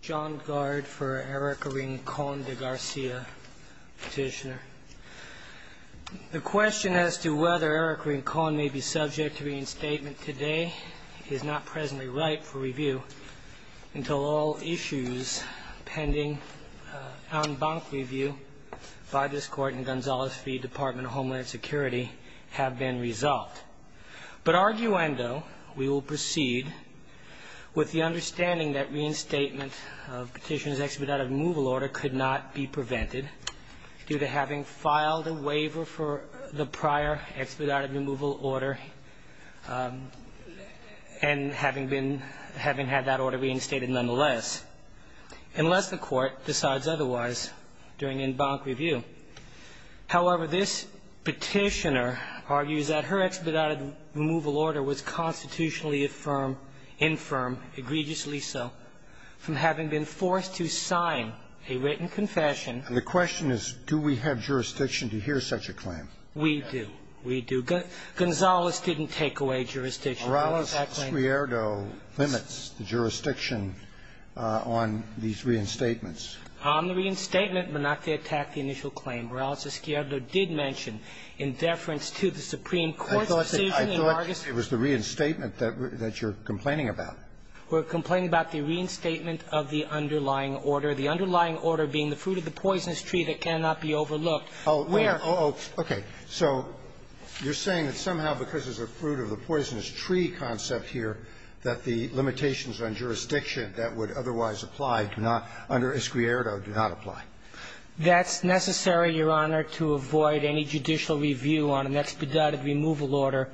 John Gard for Ericka Rincon de Garcia, Petitioner. The question as to whether Ericka Rincon may be subject to reinstatement today is not presently ripe for review until all issues pending en banc review by this Court in Gonzales v. Department of Homeland Security have been resolved. But arguendo, we will proceed with the understanding that reinstatement of Petitioner's expedited removal order could not be prevented due to having filed a waiver for the prior expedited removal order and having been, having had that order reinstated nonetheless, unless the Court decides otherwise during en banc review. However, this Petitioner argues that her expedited removal order was constitutionally affirmed, infirm, egregiously so, from having been forced to sign a written confession. And the question is, do we have jurisdiction to hear such a claim? We do. We do. Gonzales didn't take away jurisdiction. Morales-Squierdo limits the jurisdiction on these reinstatements. On the reinstatement, Menache attacked the initial claim. Morales-Squierdo did mention, in deference to the Supreme Court's decision in August I thought it was the reinstatement that you're complaining about. We're complaining about the reinstatement of the underlying order, the underlying order being the fruit of the poisonous tree that cannot be overlooked. Oh, wait. Oh, okay. So you're saying that somehow because there's a fruit of the poisonous tree concept here, that the limitations on jurisdiction that would otherwise apply do not, under Squierdo, do not apply? That's necessary, Your Honor, to avoid any judicial review on an expedited removal order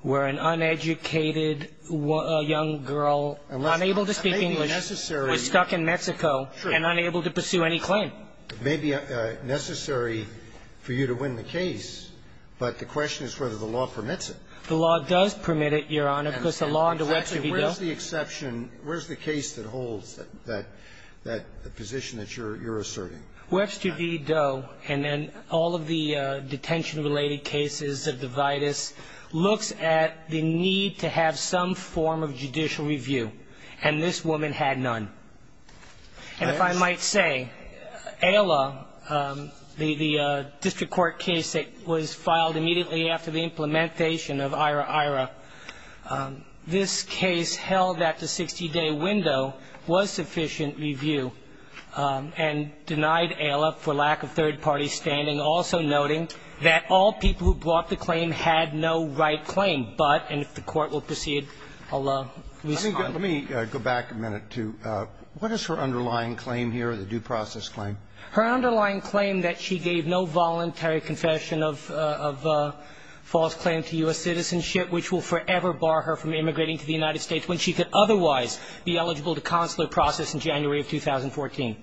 where an uneducated young girl unable to speak English was stuck in Mexico and unable to pursue any claim. It may be necessary for you to win the case, but the question is whether the law permits it. The law does permit it, Your Honor, because the law under Webster v. Doe… Actually, where's the exception? Where's the case that holds that… that position that you're – you're asserting? Webster v. Doe and then all of the detention-related cases of the vitis looks at the need to have some form of judicial review, and this woman had none. And if I might say, ALA, the district court case that was filed immediately after the implementation of IHRA-IHRA, this case held that the 60-day window was sufficient review, and denied ALA for lack of third-party standing, also noting that all people who brought the claim had no right claim, but – and if the Court will proceed, I'll respond. Let me go back a minute to what is her underlying claim here, the due process claim? Her underlying claim that she gave no voluntary confession of – of false claim to U.S. citizenship, which will forever bar her from immigrating to the United States, when she could otherwise be eligible to consular process in January of 2014.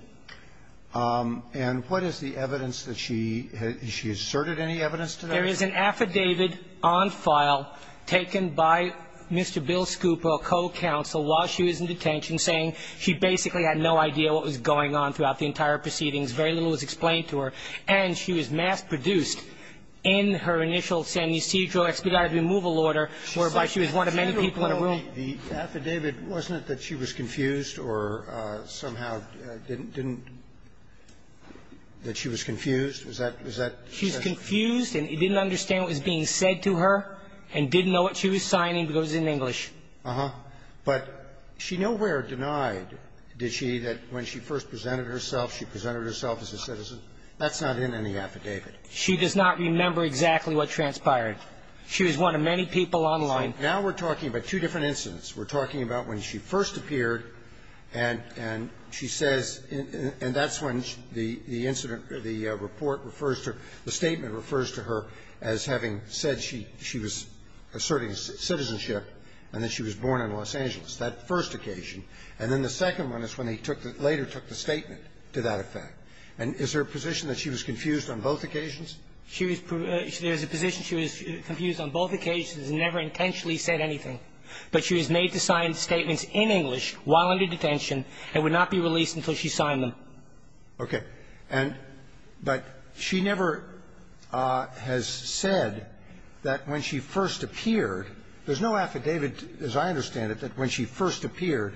And what is the evidence that she – has she asserted any evidence to that? There is an affidavit on file taken by Mr. Bill Scoop, a co-counsel, while she was in detention, saying she basically had no idea what was going on throughout the entire proceedings, very little was explained to her, and she was mass-produced in her initial San Ysidro expedited removal order, whereby she was one of many people in the room. The affidavit, wasn't it that she was confused or somehow didn't – didn't – that she was confused? Was that – was that the question? She was confused and didn't understand what was being said to her, and didn't know what she was signing, because it was in English. Uh-huh. But she nowhere denied, did she, that when she first presented herself, she presented herself as a citizen? That's not in any affidavit. She does not remember exactly what transpired. She was one of many people online. Now we're talking about two different incidents. We're talking about when she first appeared, and – and she says – and that's when the incident – the report refers to her – the statement refers to her as having said she – she was asserting citizenship, and that she was born in Los Angeles, that first occasion. And then the second one is when he took the – later took the statement to that effect. And is there a position that she was confused on both occasions? She was – there's a position she was confused on both occasions and never intentionally said anything. But she was made to sign statements in English while under detention and would not be released until she signed them. Okay. And – but she never has said that when she first appeared – there's no affidavit, as I understand it, that when she first appeared,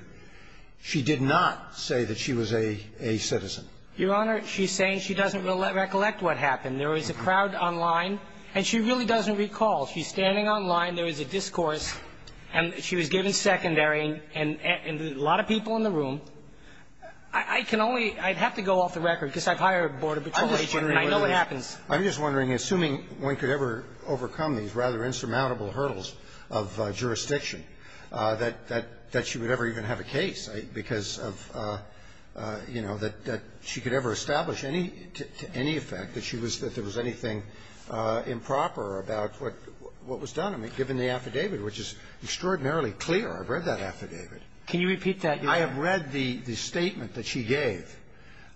she did not say that she was a – a citizen. Your Honor, she's saying she doesn't recollect what happened. There was a crowd online, and she really doesn't recall. She's standing online. There was a discourse, and she was given secondary, and a lot of people in the room. I can only – I'd have to go off the record, because I've hired a border patrol agent, and I know it happens. I'm just wondering, assuming one could ever overcome these rather insurmountable hurdles of jurisdiction, that – that she would ever even have a case because of, you know, that she could ever establish any – to any effect that she was – that there was anything improper about what was done. I mean, given the affidavit, which is extraordinarily clear. Can you repeat that, Your Honor? I have read the – the statement that she gave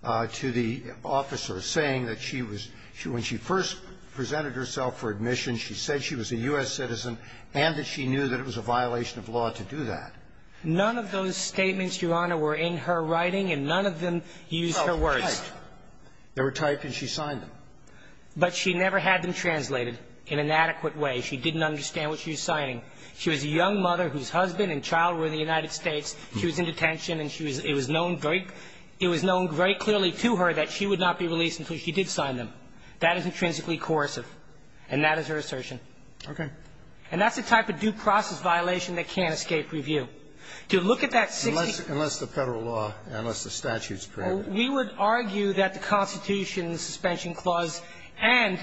to the officer, saying that she was – when she first presented herself for admission, she said she was a U.S. citizen and that she knew that it was a violation of law to do that. None of those statements, Your Honor, were in her writing, and none of them used her words. Oh, typed. They were typed, and she signed them. But she never had them translated in an adequate way. She didn't understand what she was signing. She was a young mother whose husband and child were in the United States. She was in detention, and she was – it was known very – it was known very clearly to her that she would not be released until she did sign them. That is intrinsically coercive, and that is her assertion. Okay. And that's the type of due process violation that can't escape review. To look at that 60 – Unless – unless the Federal law, unless the statute's prohibitive. Well, we would argue that the Constitution's suspension clause and,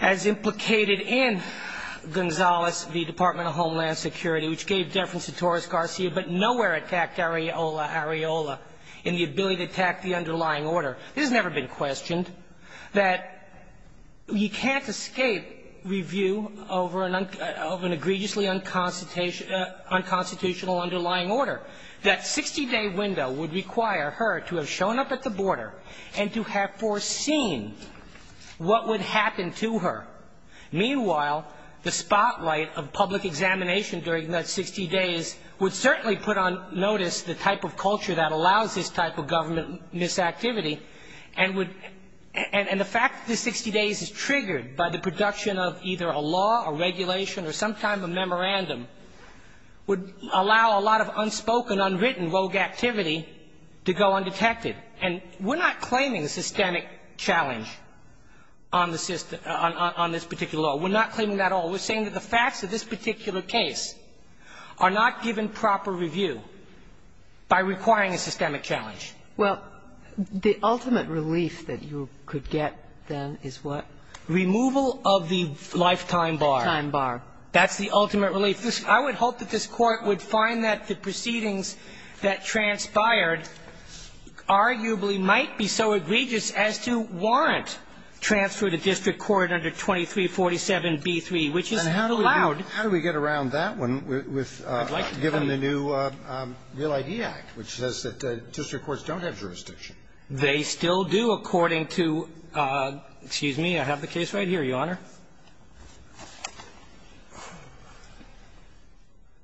as implicated in Gonzales v. Department of Homeland Security, which gave deference to Torres Garcia, but nowhere attacked Areola – Areola in the ability to attack the underlying order. This has never been questioned, that you can't escape review over an – of an egregiously unconstitutional underlying order. That 60-day window would require her to have shown up at the border and to have foreseen what would happen to her. Meanwhile, the spotlight of public examination during that 60 days would certainly put on notice the type of culture that allows this type of government misactivity and would – and the fact that the 60 days is triggered by the production of either a law, a regulation, or some type of memorandum would allow a lot of unspoken, unwritten, rogue activity to go undetected. And we're not claiming a systemic challenge on the system – on this particular law. We're not claiming that at all. We're saying that the facts of this particular case are not given proper review by requiring a systemic challenge. Well, the ultimate relief that you could get, then, is what? Removal of the lifetime bar. Lifetime bar. That's the ultimate relief. If this – I would hope that this Court would find that the proceedings that transpired arguably might be so egregious as to warrant transfer to district court under 2347b3, which is allowed. And how do we get around that one with – given the new Real ID Act, which says that district courts don't have jurisdiction? They still do, according to – excuse me, I have the case right here, Your Honor.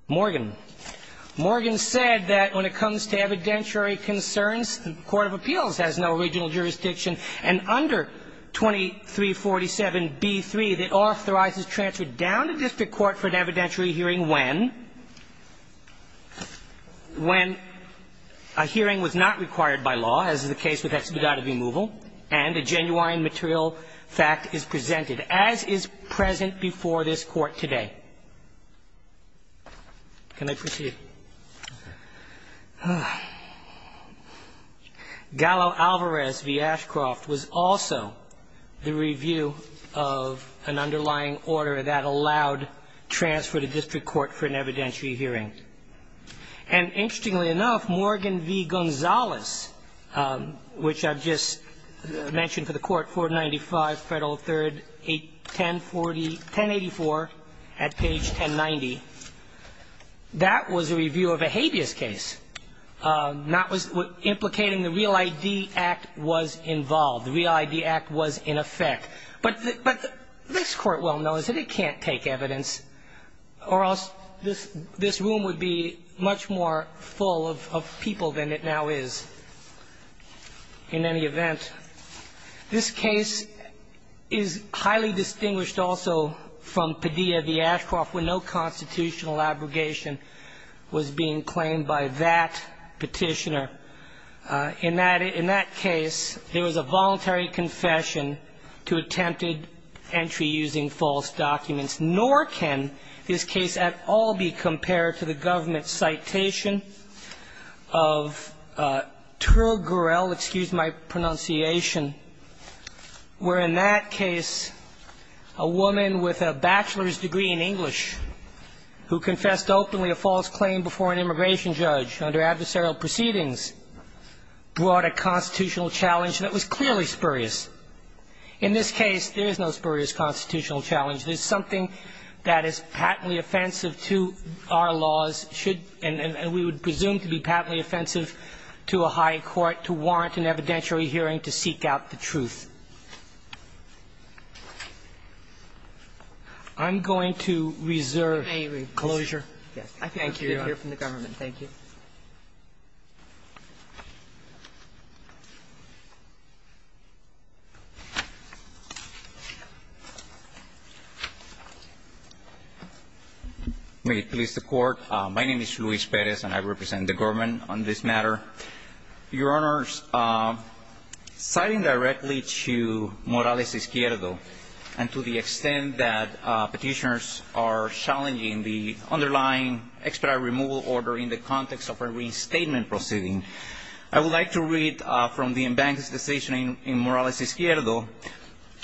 Morgan. Morgan said that when it comes to evidentiary concerns, the court of appeals has no original jurisdiction, and under 2347b3, it authorizes transfer down to district court for an evidentiary hearing when? When a hearing was not required by law, as is the case with expedited removal, and a genuine material fact is presented. As is present before this Court today. Can I proceed? Gallo-Alvarez v. Ashcroft was also the review of an underlying order that allowed transfer to district court for an evidentiary hearing. And interestingly enough, Morgan v. Gonzales, which I've just mentioned for the Court, 495 Federal 3rd, 1084 at page 1090, that was a review of a habeas case. That was implicating the Real ID Act was involved. The Real ID Act was in effect. But this Court well knows that it can't take evidence, or else this room would be much more full of people than it now is. In any event, this case is highly distinguished also from Padilla v. Ashcroft, where no constitutional abrogation was being claimed by that Petitioner. In that case, there was a voluntary confession to attempted entry using false documents. Nor can this case at all be compared to the government's citation of Turgorel, excuse my pronunciation, where in that case a woman with a bachelor's degree in English who confessed openly a false claim before an immigration judge under adversarial proceedings brought a constitutional challenge that was clearly spurious. In this case, there is no spurious constitutional challenge. There's something that is patently offensive to our laws and we would presume to be patently offensive to a high court to warrant an evidentiary hearing to seek out the truth. I'm going to reserve closure. Thank you, Your Honor. I can't hear from the government. Thank you. May it please the Court. My name is Luis Perez and I represent the government on this matter. Your Honors, citing directly to Morales Izquierdo and to the extent that Petitioners are challenging the underlying expedited removal order in the context of a restatement proceeding, I would like to read from the embankment's decision in Morales Izquierdo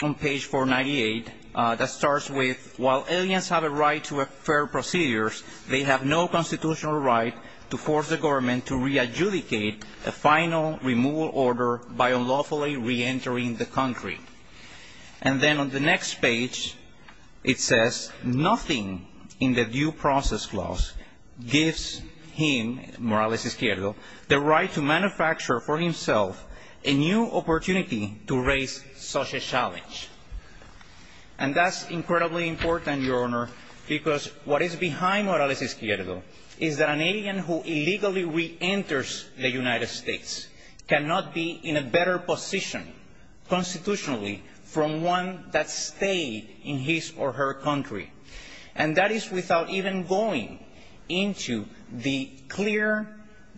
on page 498 that starts with, while aliens have a right to a fair procedure, they have no constitutional right to force the government to re-adjudicate a final removal order by unlawfully re-entering the country. And then on the next page it says, nothing in the due process clause gives him, Morales Izquierdo, the right to manufacture for himself a new opportunity to raise such a challenge. And that's incredibly important, Your Honor, because what is behind Morales Izquierdo is that an alien who illegally re-enters the United States cannot be in a better position constitutionally from one that stayed in his or her country. And that is without even going into the clear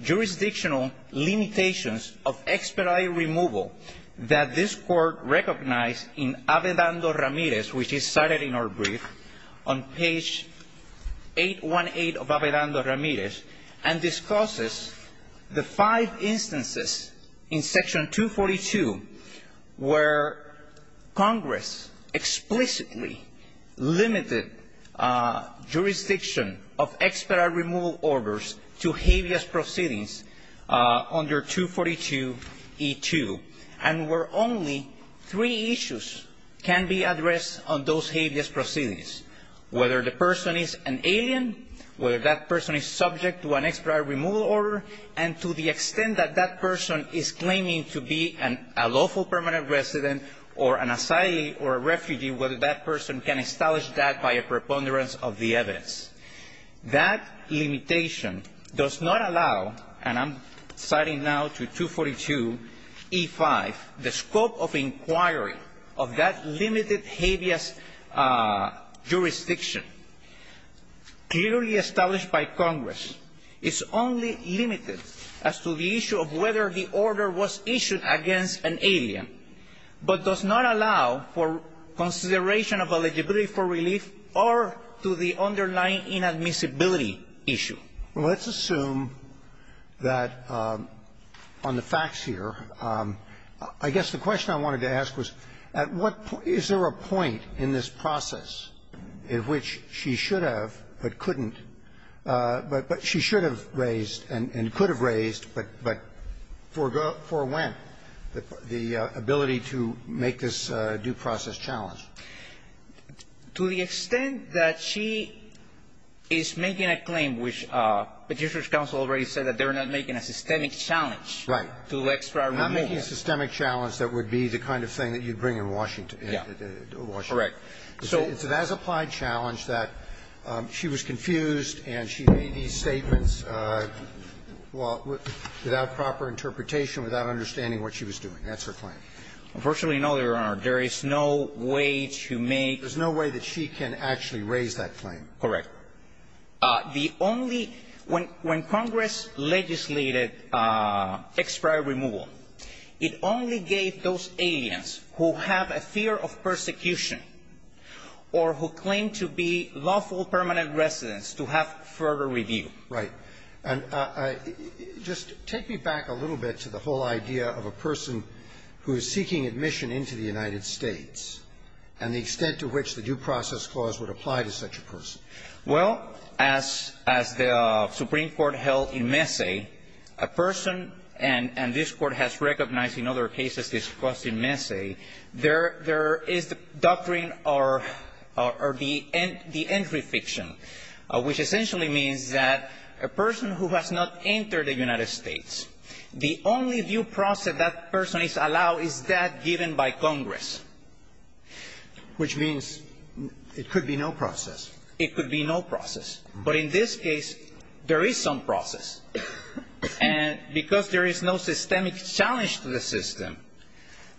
jurisdictional limitations of expedited removal that this Court recognized in Avedando Ramirez, which is cited in our brief, on page 818 of where Congress explicitly limited jurisdiction of expedited removal orders to habeas proceedings under 242E2, and where only three issues can be addressed on those habeas proceedings, whether the person is an alien, whether that person is subject to an expedited removal order, and to the extent that that person is claiming to be a lawful permanent resident or an asylee or a refugee, whether that person can establish that by a preponderance of the evidence. That limitation does not allow, and I'm citing now to 242E5, the scope of inquiry of that limited habeas jurisdiction. Clearly established by Congress, it's only limited as to the issue of whether the order was issued against an alien, but does not allow for consideration of eligibility for relief or to the underlying inadmissibility issue. Roberts. Well, let's assume that on the facts here, I guess the question I wanted to ask was, at what point, is there a point in this process at which she should have but couldn't, but she should have raised and could have raised, but for when, the ability to make this due process challenge? To the extent that she is making a claim, which Petitioner's counsel already said that they're not making a systemic challenge to extra removal. Right. I'm not making a systemic challenge that would be the kind of thing that you'd bring in Washington. Correct. It's an as-applied challenge that she was confused and she made these statements without proper interpretation, without understanding what she was doing. That's her claim. Unfortunately, no, Your Honor. There is no way to make the claim. There's no way that she can actually raise that claim. Correct. The only – when Congress legislated extra removal, it only gave those aliens who have a fear of persecution or who claim to be lawful permanent residents to have further review. Right. And just take me back a little bit to the whole idea of a person who is seeking admission into the United States and the extent to which the due process clause would apply to such a person. Well, as the Supreme Court held in Messe, a person – and this Court has recognized in other cases discussed in Messe – there is the doctrine or the entry fiction, which essentially means that a person who has not entered the United States, the only due process that person is allowed is that given by Congress. Which means it could be no process. It could be no process. But in this case, there is some process. And because there is no systemic challenge to the system,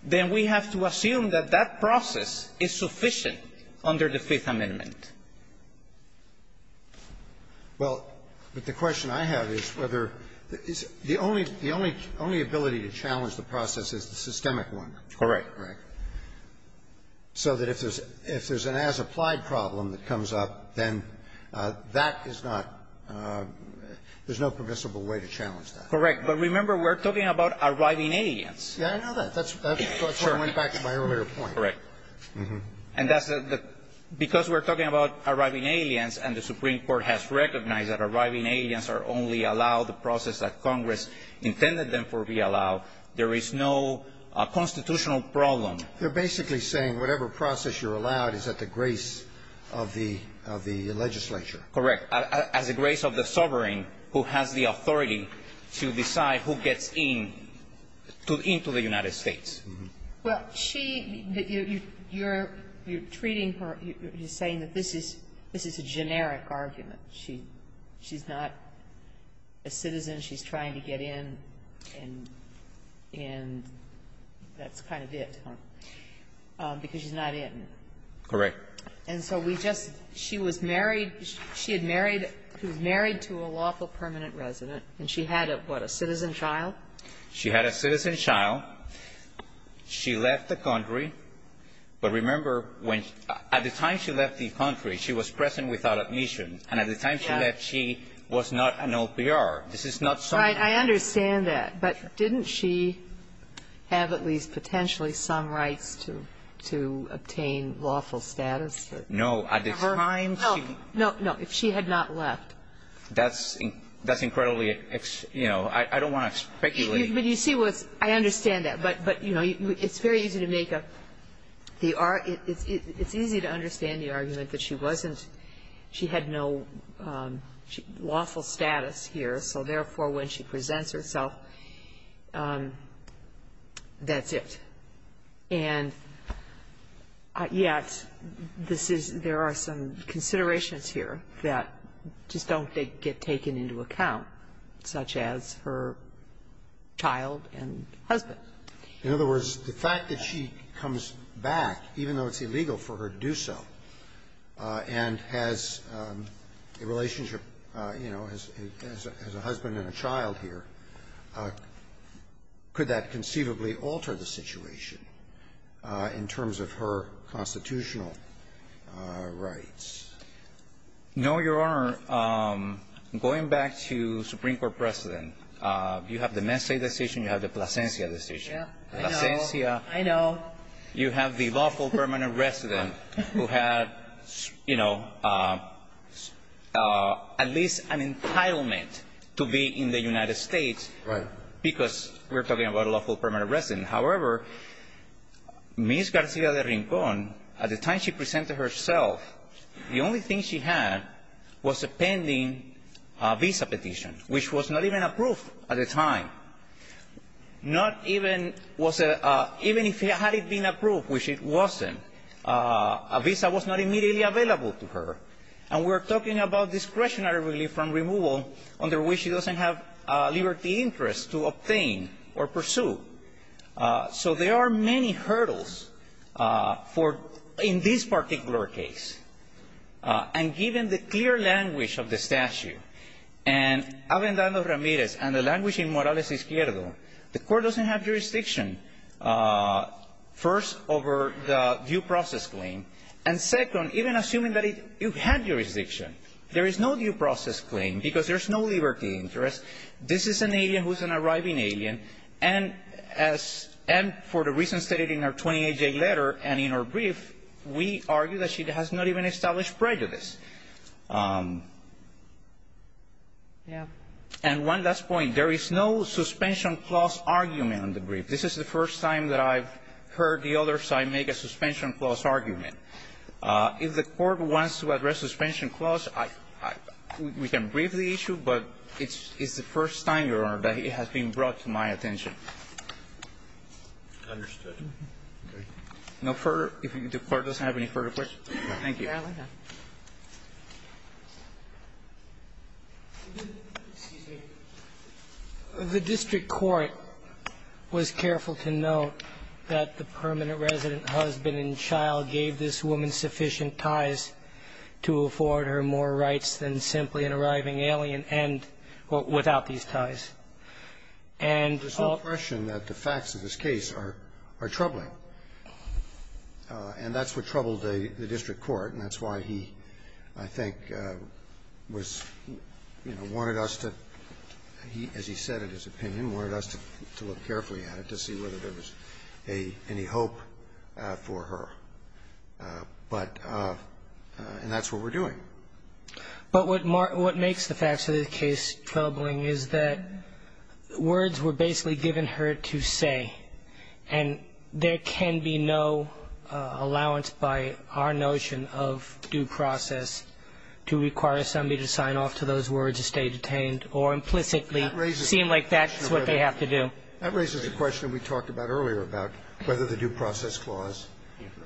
then we have to assume that that process is sufficient under the Fifth Amendment. Well, but the question I have is whether the only – the only ability to challenge the process is the systemic one. Correct. Correct. So that if there's an as-applied problem that comes up, then that is not – there's no permissible way to challenge that. Correct. But remember, we're talking about arriving aliens. Yeah, I know that. That's where I went back to my earlier point. Correct. And that's the – because we're talking about arriving aliens and the Supreme Court has recognized that arriving aliens are only allowed the process that Congress intended them to be allowed, there is no constitutional problem. They're basically saying whatever process you're allowed is at the grace of the legislature. Correct. As a grace of the sovereign who has the authority to decide who gets in to the United States. Well, she – you're treating her – you're saying that this is a generic argument. She's not a citizen. She's trying to get in, and that's kind of it, because she's not in. Correct. And so we just – she was married – she had married – she was married to a lawful permanent resident, and she had a, what, a citizen child? She had a citizen child. She left the country. But remember, when – at the time she left the country, she was present without admission, and at the time she left, she was not an OPR. This is not some – Right. I understand that. But didn't she have at least potentially some rights to – to obtain lawful status that – No. At the time she – No. No. No. If she had not left. That's – that's incredibly – you know, I don't want to speculate. But you see what's – I understand that. But, you know, it's very easy to make a – the – it's easy to understand the argument that she wasn't – she had no lawful status here, so therefore, when she presents herself, that's it. And yet, this is – there are some considerations here that just don't get taken into account, such as her child and husband. In other words, the fact that she comes back, even though it's illegal for her to do so, and has a relationship, you know, as a husband and a child here, could that in terms of her constitutional rights? No, Your Honor. Going back to Supreme Court precedent, you have the Messe decision, you have the Plasencia decision. Yeah. I know. Plasencia. I know. You have the lawful permanent resident who had, you know, at least an entitlement to be in the United States. Right. Because we're talking about a lawful permanent resident. However, Ms. Garcia de Rincon, at the time she presented herself, the only thing she had was a pending visa petition, which was not even approved at the time. Not even was a – even if it had been approved, which it wasn't, a visa was not immediately available to her. And we're talking about discretionary relief from removal, under which she doesn't have liberty interest to obtain or pursue. So there are many hurdles for – in this particular case. And given the clear language of the statute, and Avendano Ramirez and the language in Morales Izquierdo, the court doesn't have jurisdiction, first, over the due process claim, and second, even assuming that it – you have jurisdiction, there is no due process claim. Now, Ms. Garcia de Rincon is not a permanent resident. She doesn't have liberty interest. This is an alien who is an arriving alien. And as – and for the reasons stated in our 28-J letter and in our brief, we argue that she has not even established prejudice. And one last point. There is no suspension clause argument in the brief. This is the first time that I've heard the other side make a suspension clause argument. If the Court wants to address suspension clause, I – we can brief the issue, but it's the first time, Your Honor, that it has been brought to my attention. No further – if the Court doesn't have any further questions. Thank you. Kagan. Excuse me. The district court was careful to note that the permanent resident, husband and child, gave this woman sufficient ties to afford her more rights than simply an arriving alien and – without these ties. And – There's no question that the facts of this case are troubling. And that's what troubled the district court, and that's why he, I think, was – you know, wanted us to – he, as he said in his opinion, wanted us to look carefully at it to see whether there was any hope for her. But – and that's what we're doing. But what makes the facts of this case troubling is that words were basically given her to say, and there can be no allowance by our notion of due process to require somebody to sign off to those words to stay detained or implicitly seem like that's what they have to do. That raises a question we talked about earlier about whether the due process clause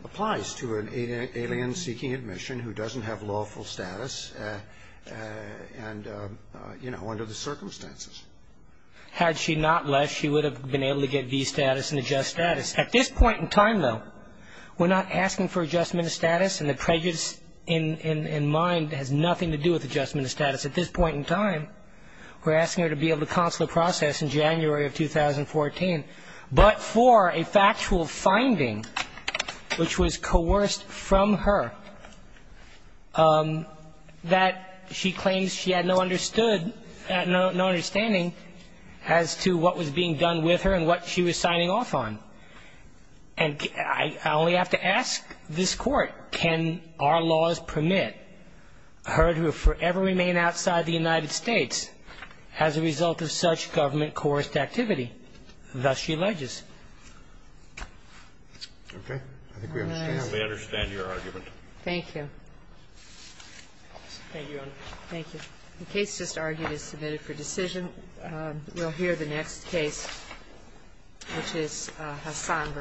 applies to an alien seeking admission who doesn't have lawful status and, you know, under the circumstances. Had she not left, she would have been able to get V status and adjust status. At this point in time, though, we're not asking for adjustment of status, and the prejudice in mind has nothing to do with adjustment of status. At this point in time, we're asking her to be able to consular process in January of 2014, but for a factual finding which was coerced from her that she claims she had no understood as to what was being done with her and what she was signing off on. And I only have to ask this Court, can our laws permit her to forever remain outside the United States as a result of such government-coerced activity? Thus she alleges. Okay. I think we understand your argument. Thank you. Thank you, Your Honor. Thank you. The case just argued is submitted for decision. We'll hear the next case, which is Hassan v. Shirta.